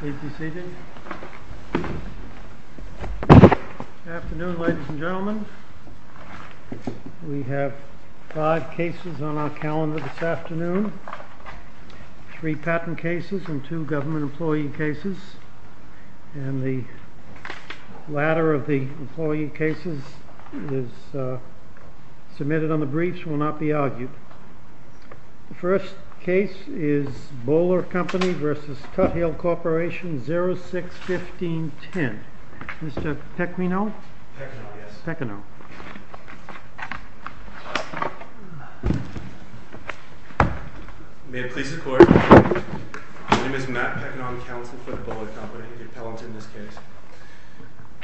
Good afternoon, ladies and gentlemen. We have five cases on our calendar this afternoon, three patent cases and two government employee cases, and the latter of the employee cases is submitted on the briefs and will not be argued. The first case is Boler Company v. Tuthill Corporation, 06-15-10. Mr. Pequino? Pequino, yes. Pequino. May it please the court. My name is Matt Pequino, counsel for the Boler Company, the appellant in this case.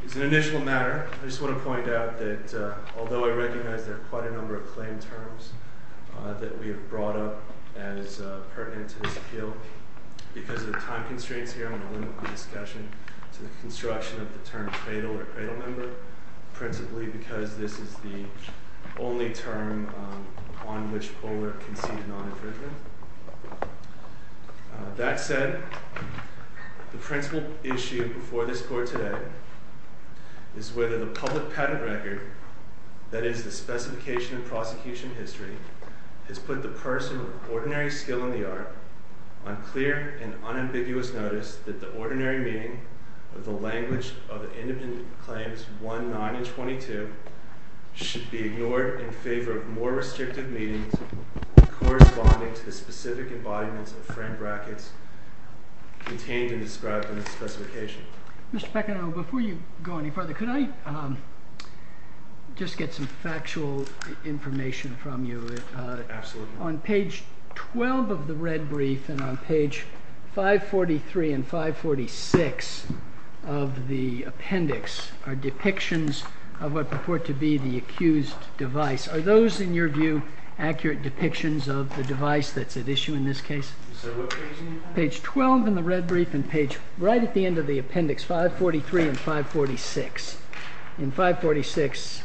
As an initial matter, I just want to point out that although I recognize there are quite a number of claim terms that we have brought up as pertinent to this appeal, because of time constraints here, I'm going to limit the discussion to the construction of the term cradle or cradle member, principally because this is the only term on which Boler concedes non-infringement. That said, the principal issue before this court today is whether the public patent record, that is, the specification of prosecution history, has put the person with ordinary skill in the art on clear and unambiguous notice that the ordinary meaning of the language of the independent claims 1, 9, and 22 should be ignored in favor of more restrictive meanings corresponding to the nature of the claim. The specific embodiments of friend brackets contained and described in the specification. Mr. Pequino, before you go any further, could I just get some factual information from you? Absolutely. On page 12 of the red brief and on page 543 and 546 of the appendix are depictions of what purport to be the accused device. Are those, in your view, accurate depictions of the device that's at issue in this case? Page 12 in the red brief and page right at the end of the appendix, 543 and 546. In 546,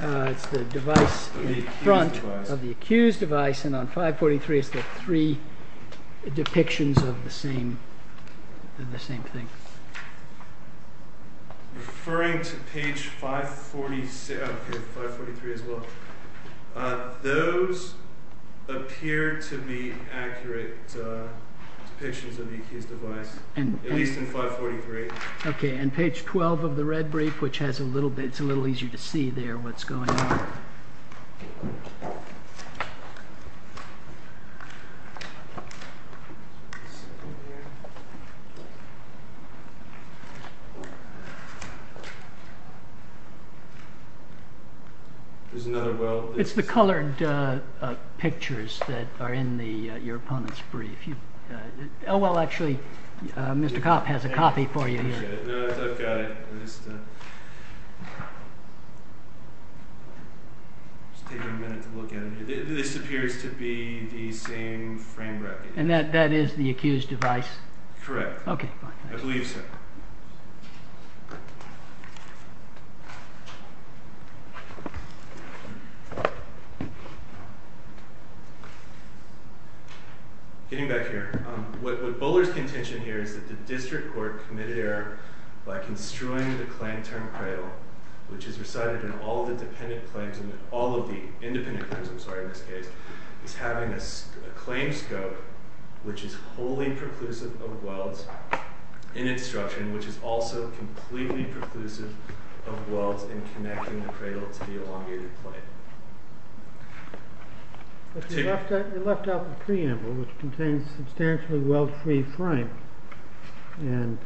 it's the device in front of the accused device. And on 543, it's the three depictions of the same thing. Referring to page 543 as well, those appear to be accurate depictions of the accused device, at least in 543. And page 12 of the red brief, it's a little easier to see there what's going on. It's the colored pictures that are in your opponent's brief. Oh, well, actually, Mr. Kopp has a copy for you here. No, I've got it. Just taking a minute to look at it. This appears to be the same friend bracket. And that is the accused device? Correct. Okay, fine. I believe so. Getting back here. What Bowler's contention here is that the district court committed error by construing the claim term cradle, which is recited in all of the independent claims in this case, is having a claim scope which is wholly preclusive of welds in instruction, which is also completely preclusive of welds in connecting the cradle to the elongated plate. But you left out the preamble, which contains substantially weld-free frame. And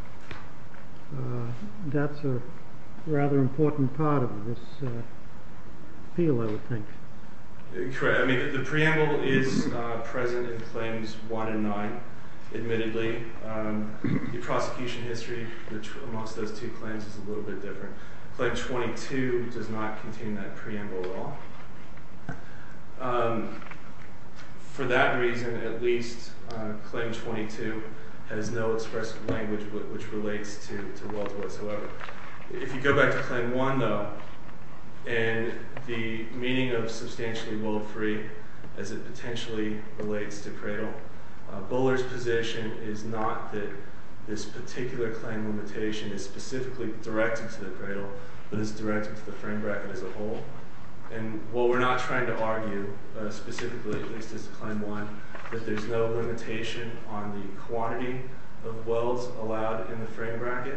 that's a rather important part of this appeal, I would think. Correct. I mean, the preamble is present in Claims 1 and 9, admittedly. The prosecution history amongst those two claims is a little bit different. Claim 22 does not contain that preamble at all. For that reason, at least, Claim 22 has no expressive language which relates to welds whatsoever. If you go back to Claim 1, though, and the meaning of substantially weld-free as it potentially relates to cradle, Bowler's position is not that this particular claim limitation is specifically directed to the cradle, but is directed to the frame bracket as a whole. And what we're not trying to argue, specifically, at least as to Claim 1, is that there's no limitation on the quantity of welds allowed in the frame bracket.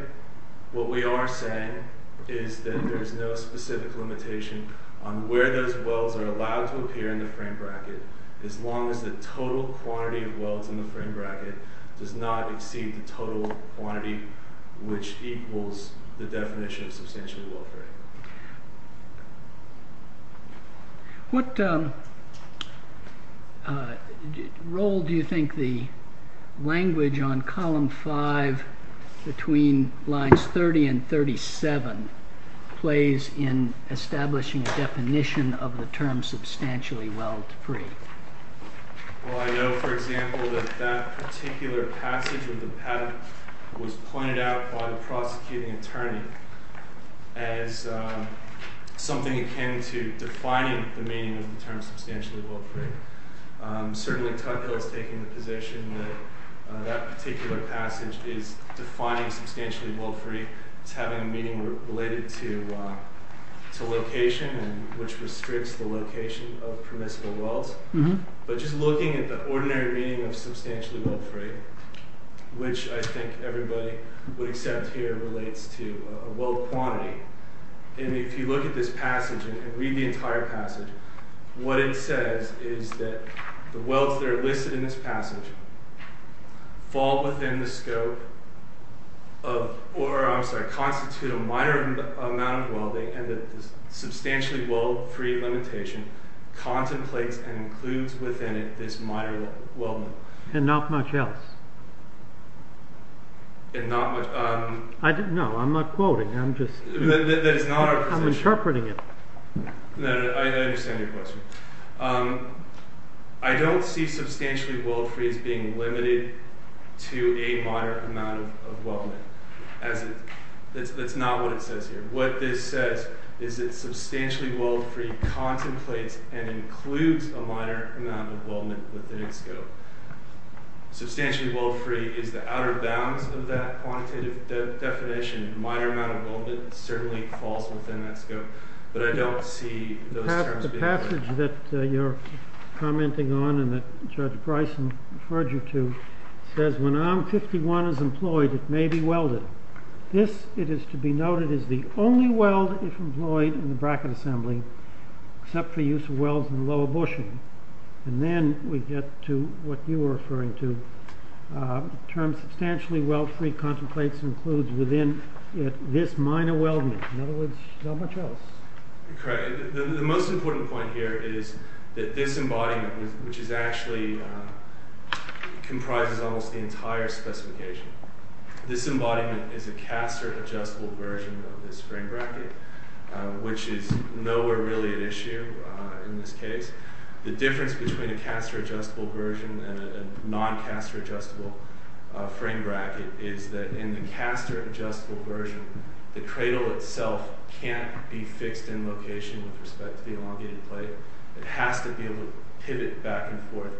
What we are saying is that there's no specific limitation on where those welds are allowed to appear in the frame bracket, as long as the total quantity of welds in the frame bracket does not exceed the total quantity, which equals the definition of substantially weld-free. What role do you think the language on Column 5, between Lines 30 and 37, plays in establishing a definition of the term substantially weld-free? Well, I know, for example, that that particular passage of the patent was pointed out by the prosecuting attorney as something akin to defining the meaning of the term substantially weld-free. Certainly, Tudhill is taking the position that that particular passage is defining substantially weld-free as having a meaning related to location, which restricts the location of permissible welds. But just looking at the ordinary meaning of substantially weld-free, which I think everybody would accept here relates to a weld quantity, and if you look at this passage and read the entire passage, what it says is that the welds that are listed in this passage fall within the scope of, or, I'm sorry, constitute a minor amount of welding, and that this substantially weld-free limitation contemplates and includes within it this minor weldment. And not much else. And not much... No, I'm not quoting, I'm just... That is not our position. I'm interpreting it. No, no, I understand your question. I don't see substantially weld-free as being limited to a minor amount of weldment. That's not what it says here. What this says is that substantially weld-free contemplates and includes a minor amount of weldment within its scope. Substantially weld-free is the outer bounds of that quantitative definition. A minor amount of weldment certainly falls within that scope. But I don't see those terms being... The passage that you're commenting on and that Judge Bryson referred you to says, when arm 51 is employed, it may be welded. This, it is to be noted, is the only weld if employed in the bracket assembly, except for use of welds in lower bushing. And then we get to what you were referring to. The term substantially weld-free contemplates and includes within it this minor weldment. In other words, not much else. Correct. The most important point here is that this embodiment, which actually comprises almost the entire specification, this embodiment is a caster-adjustable version of this frame bracket, which is nowhere really at issue in this case. The difference between a caster-adjustable version and a non-caster-adjustable frame bracket is that in the caster-adjustable version, the cradle itself can't be fixed in location with respect to the elongated plate. It has to be able to pivot back and forth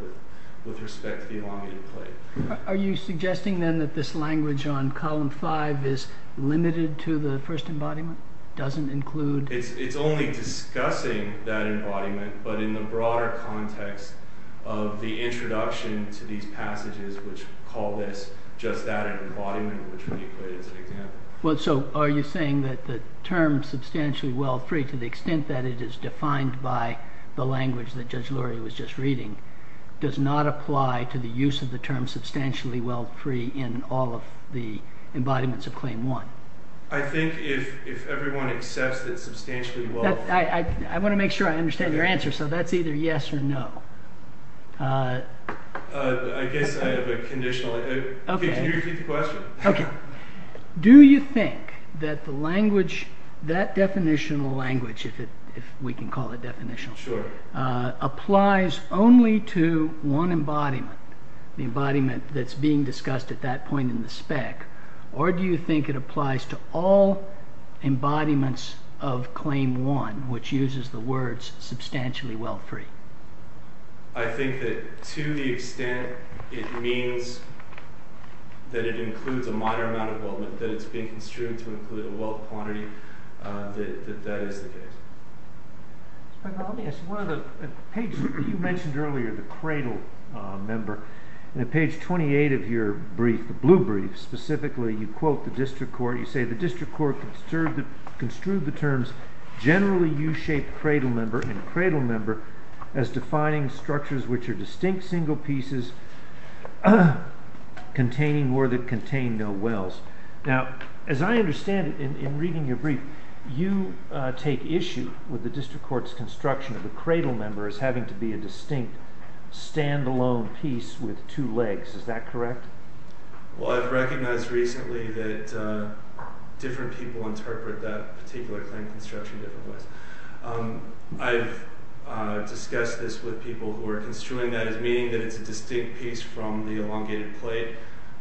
with respect to the elongated plate. Are you suggesting then that this language on column 5 is limited to the first embodiment? It doesn't include... It's only discussing that embodiment, but in the broader context of the introduction to these passages, which call this just that embodiment, which we equate as an example. Are you saying that the term substantially weld-free, to the extent that it is defined by the language that Judge Luria was just reading, does not apply to the use of the term substantially weld-free in all of the embodiments of Claim 1? I think if everyone accepts that substantially weld-free... I want to make sure I understand your answer, so that's either yes or no. I guess I have a conditional... Can you repeat the question? Do you think that that definitional language, if we can call it definitional, applies only to one embodiment, the embodiment that's being discussed at that point in the spec, or do you think it applies to all embodiments of Claim 1, which uses the words substantially weld-free? I think that to the extent it means that it includes a minor amount of weldment, that it's being construed to include a weld quantity, that that is the case. You mentioned earlier the cradle member, and at page 28 of your brief, the blue brief, specifically you quote the district court, you say the district court construed the terms generally U-shaped cradle member and cradle member as defining structures which are distinct single pieces containing or that contain no welds. Now, as I understand it, in reading your brief, you take issue with the district court's construction of the cradle member as having to be a distinct, stand-alone piece with two legs. Is that correct? Well, I've recognized recently that different people interpret that particular claim construction in different ways. I've discussed this with people who are construing that as meaning that it's a distinct piece from the elongated plate,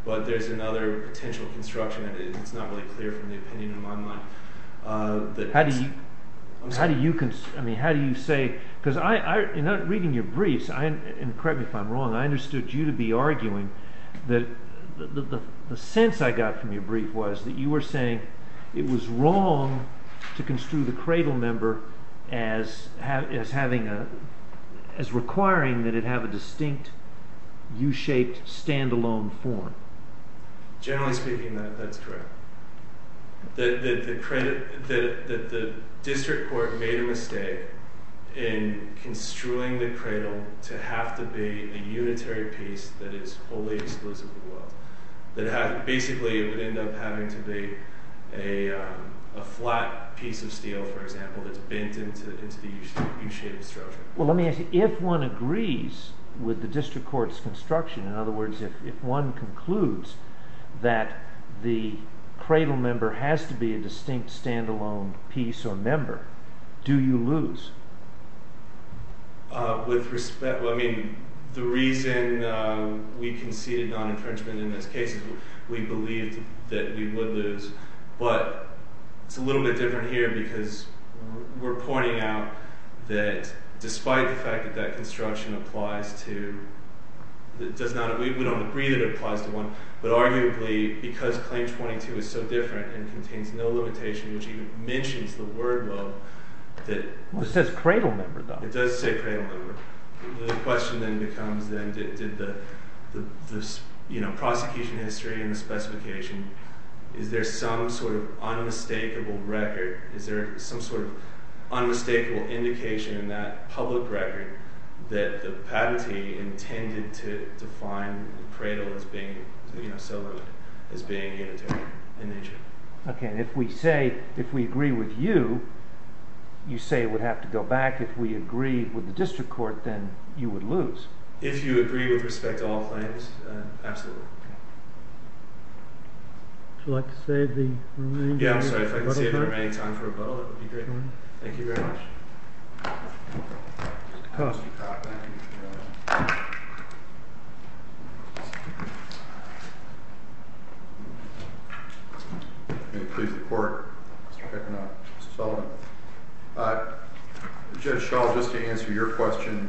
but there's another potential construction, and it's not really clear from the opinion in my mind. How do you say, because in reading your briefs, and correct me if I'm wrong, I understood you to be arguing that the sense I got from your brief was that you were saying it was wrong to construe the cradle member as requiring that it have a distinct, U-shaped, stand-alone form. Generally speaking, that's correct. That the district court made a mistake in construing the cradle to have to be a unitary piece that is wholly explicit of the world. Basically, it would end up having to be a flat piece of steel, for example, that's bent into the U-shaped structure. Well, let me ask you, if one agrees with the district court's construction, in other words, if one concludes that the cradle member has to be a distinct, stand-alone piece or member, do you lose? With respect, well, I mean, the reason we conceded non-infringement in this case is we believed that we would lose, but it's a little bit different here because we're pointing out that, despite the fact that that construction applies to, we don't agree that it applies to one, but arguably, because Claim 22 is so different and contains no limitation, which even mentions the word, though, that... It says cradle member, though. It does say cradle member. The question then becomes, then, did the prosecution history and the specification, is there some sort of unmistakable record, is there some sort of unmistakable indication in that public record that the patentee intended to define the cradle as being, you know, as being unitary in nature? Okay, and if we say, if we agree with you, you say it would have to go back. If we agree with the district court, then you would lose. If you agree with respect to all claims, absolutely. Would you like to save the remaining time for a bottle? Yeah, I'm sorry. If I can save the remaining time for a bottle, that would be great. Thank you very much. May it please the court. Mr. Fechner. Mr. Sullivan. Judge Schall, just to answer your question,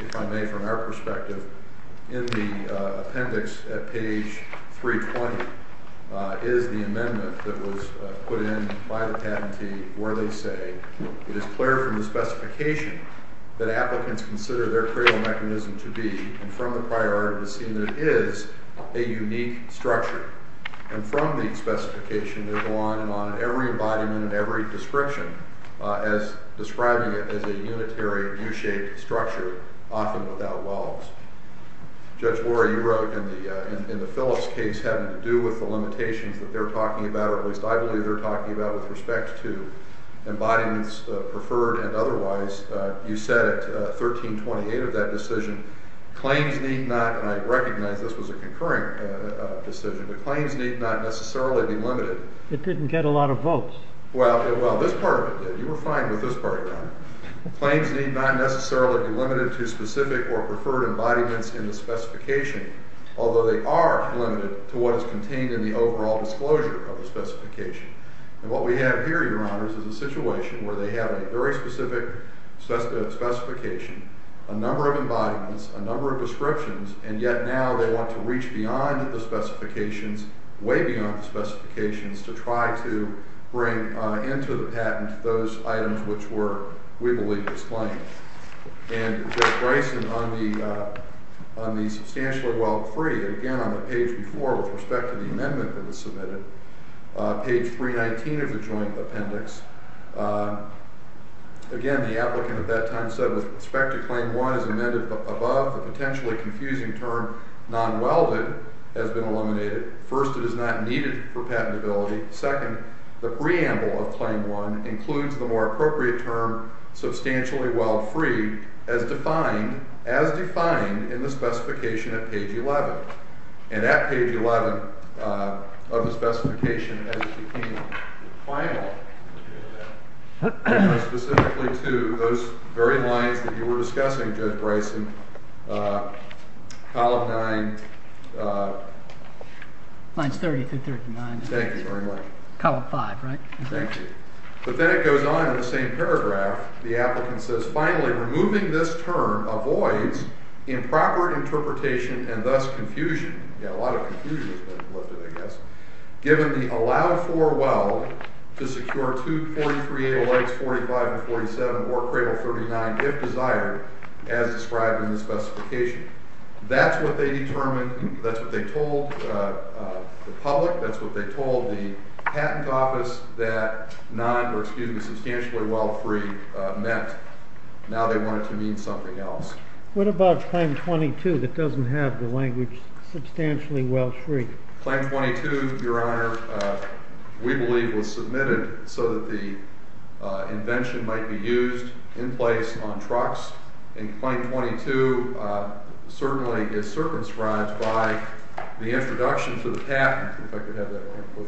if I may, from our perspective, in the appendix at page 320 is the amendment that was put in by the patentee where they say, it is clear from the specification that applicants consider their cradle mechanism to be, and from the priority to see that it is a unique structure. And from the specification, they go on and on in every embodiment and every description as describing it as a unitary U-shaped structure, often without walls. Judge Warren, you wrote in the Phillips case having to do with the limitations that they're talking about, or at least I believe they're talking about with respect to embodiments, preferred and otherwise, you said at 1328 of that decision, claims need not, and I recognize this was a concurrent decision, but claims need not necessarily be limited. It didn't get a lot of votes. Well, this part of it did. You were fine with this part, Your Honor. Claims need not necessarily be limited to specific or preferred embodiments in the specification, although they are limited to what is contained in the overall disclosure of the specification. And what we have here, Your Honors, is a situation where they have a very specific specification, a number of embodiments, a number of descriptions, and yet now they want to reach beyond the specifications, way beyond the specifications, to try to bring into the patent those items which were, we believe, disclaimed. And Judge Bryson, on the substantially well-free, again, on the page before with respect to the amendment that was submitted, page 319 of the joint appendix, again, the applicant at that time said with respect to claim one is amended above the potentially confusing term non-welded has been eliminated. First, it is not needed for patentability. Second, the preamble of claim one includes the more appropriate term substantially weld-free as defined in the specification at page 11. And at page 11 of the specification as it became final, specifically to those very lines that you were discussing, Judge Bryson, column 9. Mine's 30 through 39. Thank you very much. Column 5, right? Thank you. But then it goes on in the same paragraph. The applicant says, finally, removing this term avoids improper interpretation and thus confusion. Yeah, a lot of confusion has been lifted, I guess. Given the allowed for weld to secure 2.38 elects 45 and 47 or cradle 39 if desired as described in the specification. That's what they determined. That's what they told the public. That's what they told the patent office that non- or excuse me, substantially weld-free meant. Now they want it to mean something else. What about claim 22 that doesn't have the language substantially weld-free? Claim 22, Your Honor, we believe was submitted so that the invention might be used in place on trucks. And claim 22 certainly is circumscribed by the introduction to the patent. If I could have that one,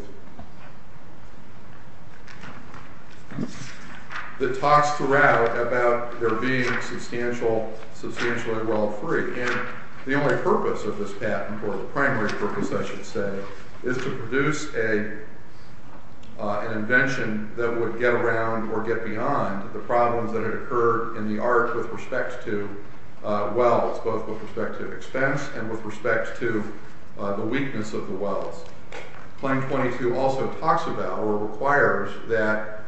please. It talks throughout about there being substantially weld-free. And the only purpose of this patent, or the primary purpose, I should say, is to produce an invention that would get around or get beyond the problems that had occurred in the arts with respect to welds, both with respect to expense and with respect to the weakness of the welds. Claim 22 also talks about or requires that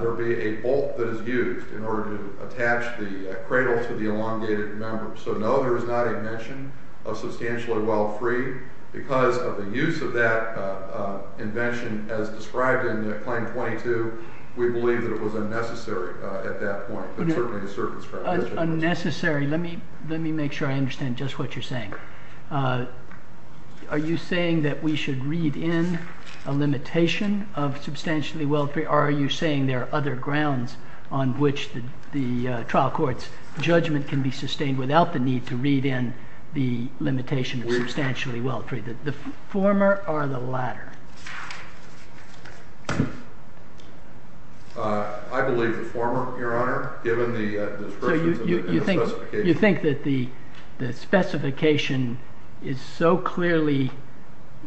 there be a bolt that is used in order to attach the cradle to the elongated member. So no, there is not a mention of substantially weld-free because of the use of that invention as described in claim 22. We believe that it was unnecessary at that point, but certainly the circumscription was necessary. Unnecessary. Let me make sure I understand just what you're saying. Are you saying that we should read in a limitation of substantially weld-free, or are you saying there are other grounds on which the trial court's judgment can be sustained without the need to read in the limitation of substantially weld-free? The former or the latter? I believe the former, Your Honor, given the description and the specification. So you think that the specification is so clearly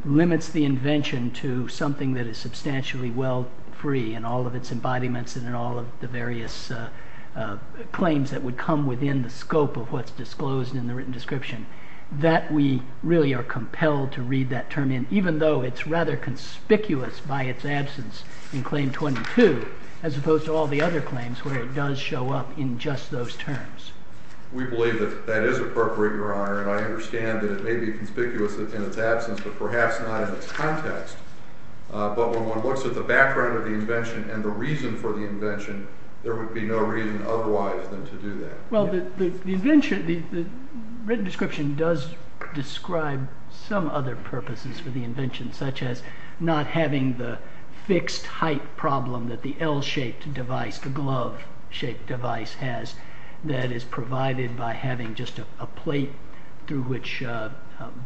limits the invention to something that is substantially weld-free in all of its embodiments and in all of the various claims that would come within the scope of what's disclosed in the written description, that we really are compelled to read that term in, even though it's rather conspicuous by its absence in Claim 22 as opposed to all the other claims where it does show up in just those terms? We believe that that is appropriate, Your Honor, and I understand that it may be conspicuous in its absence, but perhaps not in its context. But when one looks at the background of the invention and the reason for the invention, there would be no reason otherwise than to do that. Well, the invention, the written description does describe some other purposes for the invention, such as not having the fixed height problem that the L-shaped device, the glove-shaped device has that is provided by having just a plate through which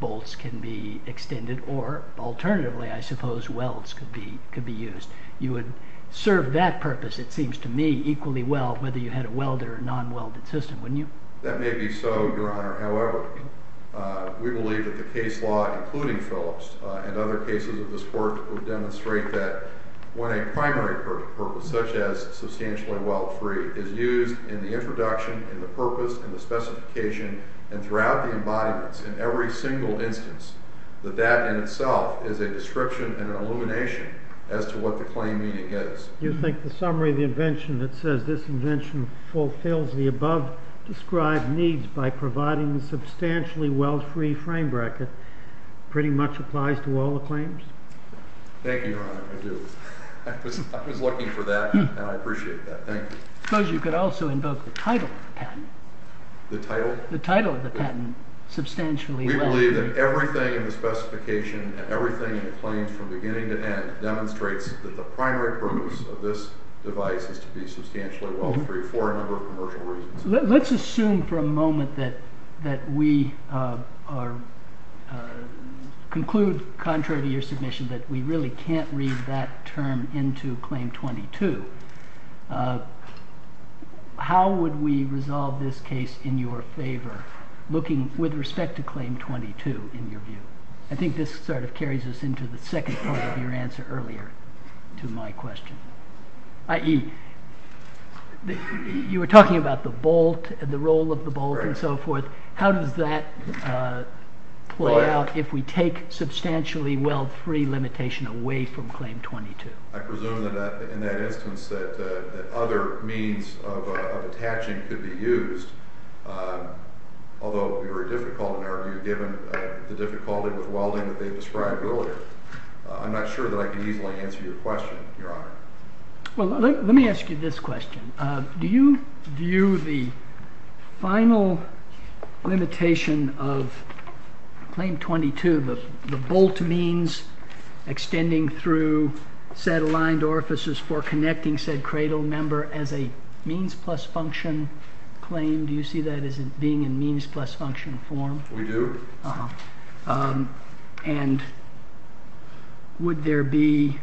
bolts can be extended, or alternatively, I suppose, welds could be used. You would serve that purpose, it seems to me, equally well, whether you had a welded or non-welded system, wouldn't you? That may be so, Your Honor. However, we believe that the case law, including Phillips and other cases of this sort, would demonstrate that when a primary purpose, such as substantially weld-free, is used in the introduction, in the purpose, in the specification, and throughout the embodiments, in every single instance, that that in itself is a description and an illumination as to what the claim meaning is. You think the summary of the invention that says this invention fulfills the above-described needs by providing the substantially weld-free frame-bracket pretty much applies to all the claims? Thank you, Your Honor. I do. I was looking for that, and I appreciate that. Thank you. I suppose you could also invoke the title of the patent. The title? The title of the patent, substantially weld-free. We believe that everything in the specification, everything in the claims from beginning to end, demonstrates that the primary purpose of this device is to be substantially weld-free for a number of commercial reasons. Let's assume for a moment that we are conclude contrary to your submission that we really can't read that term into Claim 22. How would we resolve this case in your favor looking with respect to Claim 22 in your view? I think this sort of carries us into the second part of your answer earlier to my question, i.e., you were talking about the bolt and the role of the bolt and so forth. How does that play out if we take substantially weld-free limitation away from Claim 22? I presume that in that instance that other means of attaching could be used, although it would be very difficult in our view given the difficulty with welding that they described earlier. I'm not sure that I can easily answer your question, Your Honor. Let me ask you this question. Do you view the final limitation of Claim 22, the bolt means extending through said aligned orifices for connecting said cradle member as a means plus function claim? Do you see that as being in means plus function form? We do. Uh-huh. And would there be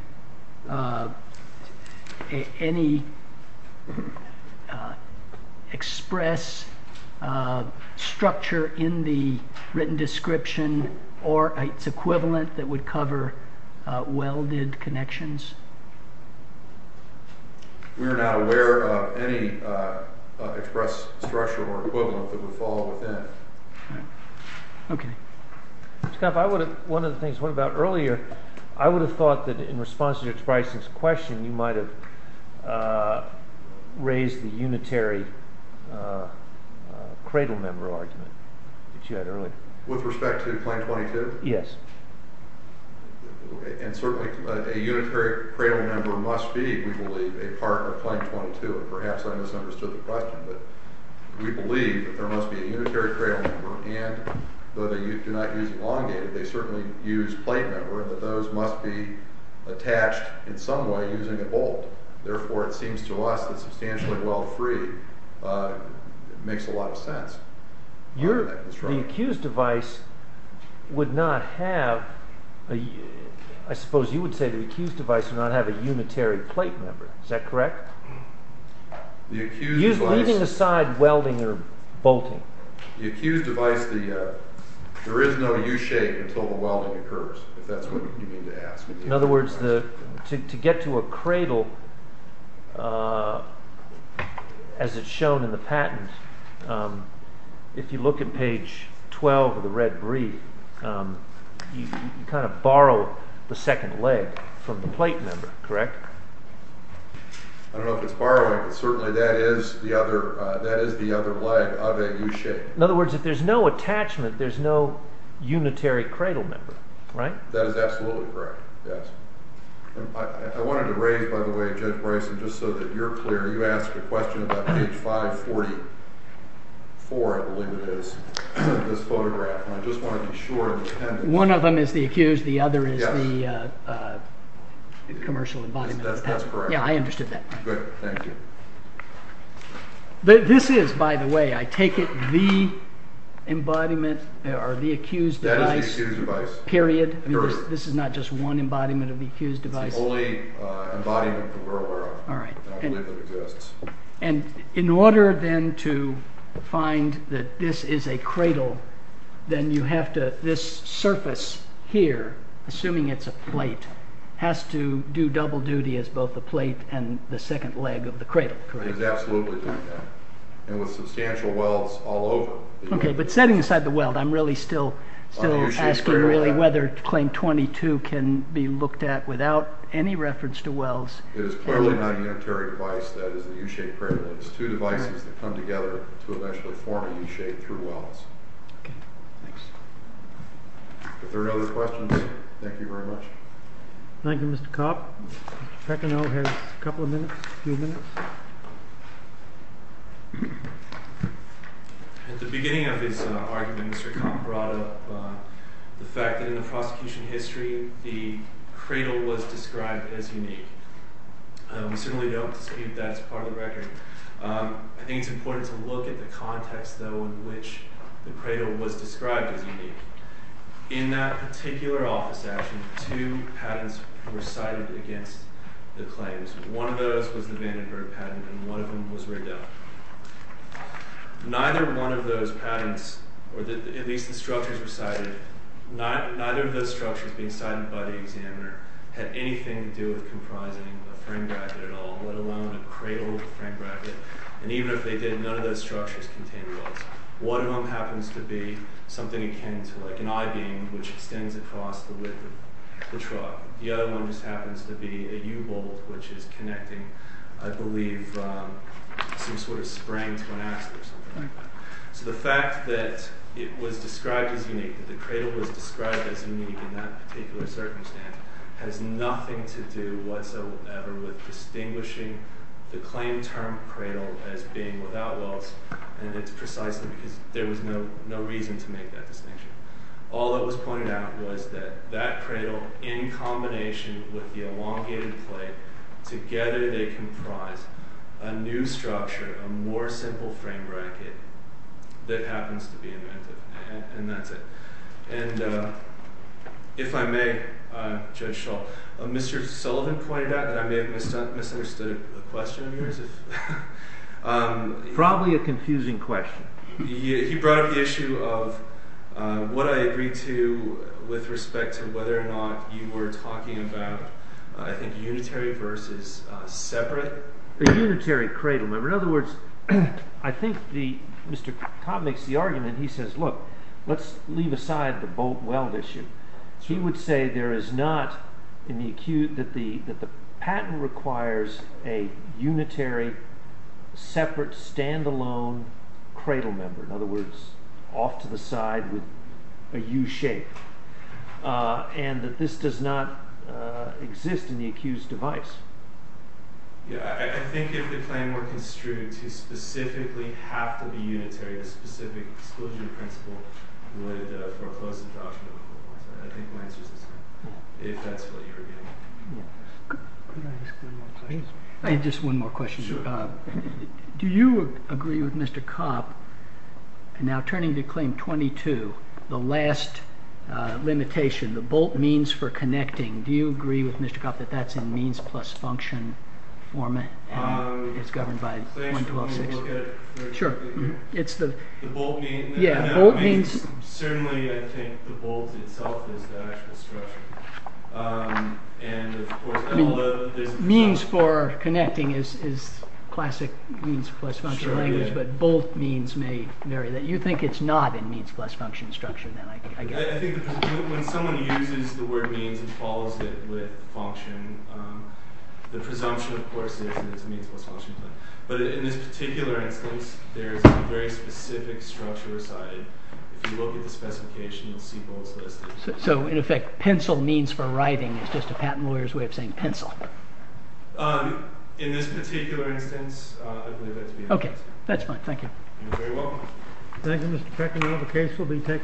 any express structure in the written description or its equivalent that would cover welded connections? We are not aware of any express structure or equivalent that would fall within. Okay. Scott, one of the things, what about earlier, I would have thought that in response to your question, you might have raised the unitary cradle member argument that you had earlier. With respect to Claim 22? Yes. Okay. And certainly a unitary cradle member must be, we believe, a part of Claim 22. Perhaps I misunderstood the question, but we believe that there must be a unitary cradle member. And though they do not use elongated, they certainly use plate member, and that those must be attached in some way using a bolt. Therefore, it seems to us that substantially weld free makes a lot of sense. The accused device would not have, I suppose you would say the accused device would not have a unitary plate member. Is that correct? Leaving aside welding or bolting. The accused device, there is no U-shape until the welding occurs, if that's what you mean to ask. In other words, to get to a cradle, as it's shown in the patent, if you look at page 12 of the red brief, you kind of borrow the second leg from the plate member, correct? I don't know if it's borrowing, but certainly that is the other leg of a U-shape. In other words, if there's no attachment, there's no unitary cradle member, right? That is absolutely correct, yes. I wanted to raise, by the way, Judge Bryson, just so that you're clear, you asked a question about page 544, I believe it is, of this photograph. I just want to be sure of the appendix. One of them is the accused, the other is the commercial embodiment of the patent. That's correct. Yeah, I understood that. Good, thank you. This is, by the way, I take it, the embodiment, or the accused device, period? Period. This is not just one embodiment of the accused device? It's the only embodiment that we're aware of. All right. And in order then to find that this is a cradle, then you have to, this surface here, assuming it's a plate, has to do double duty as both the plate and the second leg of the cradle, correct? It is absolutely doing that. And with substantial welds all over. Okay, but setting aside the weld, I'm really still asking really whether claim 22 can be looked at without any reference to welds. It is clearly not a planetary device, that is a U-shaped cradle. It is two devices that come together to eventually form a U-shaped through welds. Okay, thanks. If there are no other questions, thank you very much. Thank you, Mr. Copp. Mr. Pecineau has a couple of minutes, a few minutes. fact that in the prosecution history, the cradle was described as unique. We certainly don't know if that's true, but we do know that the cradle was described as unique. We really don't believe that's part of the record. I think it's important to look at the context though in which the cradle was described as unique. In that particular office action, two patents were cited against the claims. One of those was the Vandenberg patent and one of them was Riddell. Neither one of those patents, or at least the structures were cited, neither of those structures being cited by the examiner had anything to do with comprising a frame bracket at all, let alone a cradle frame bracket. Even if they did, none of those structures contained walls. One of them happens to be something akin to like an I-beam which extends across the width of the truck. The other one just happens to be a U-bolt which is connecting I believe some sort of spring to an axle or something like that. The fact that it was described as unique, that the cradle was described as unique in some way and not whatsoever with distinguishing the claim term cradle as being without walls and it's precisely because there was no reason to make that distinction. All that was pointed out was that that cradle in combination with the elongated plate together they comprise a new structure, a more simple frame bracket that happens to be inventive and that's it. If I may Judge Shull, Mr. Sullivan pointed out that I may have misunderstood the question of yours. Probably a confusing question. He brought up the issue of what I agreed to with respect to whether or not you were talking about I think unitary versus separate. The unitary cradle member. In other words I think Mr. Cobb makes the argument he says look let's leave aside the bolt weld issue. He would say there is not that the patent requires a unitary separate standalone cradle member. In other words off to the side with a new shape. And that this does not exist in the accused device. I think if the claim were construed to specifically have to be unitary a specific exclusion principle would foreclose the doctrine if that's what you were getting at. Could I ask one more question? Do you agree with Mr. Cobb now turning to claim 22 the last limitation the bolt means for connecting do you agree with Mr. Cobb that's in means plus function format and governed by means plus function structure. I think it's not in means plus function structure. I think when someone word means and follows it with function the presumption of course is that it's means plus function but it's not in means plus function. So in this particular instance there's a very specific structure aside. If you look at the specification you'll see bolts listed. So in effect pencil means for writing is just a patent lawyer's way of saying pencil. In this particular instance I believe that's the answer. Okay. That's fine. Thank you. You're very welcome. Thank you Mr. Peckinall.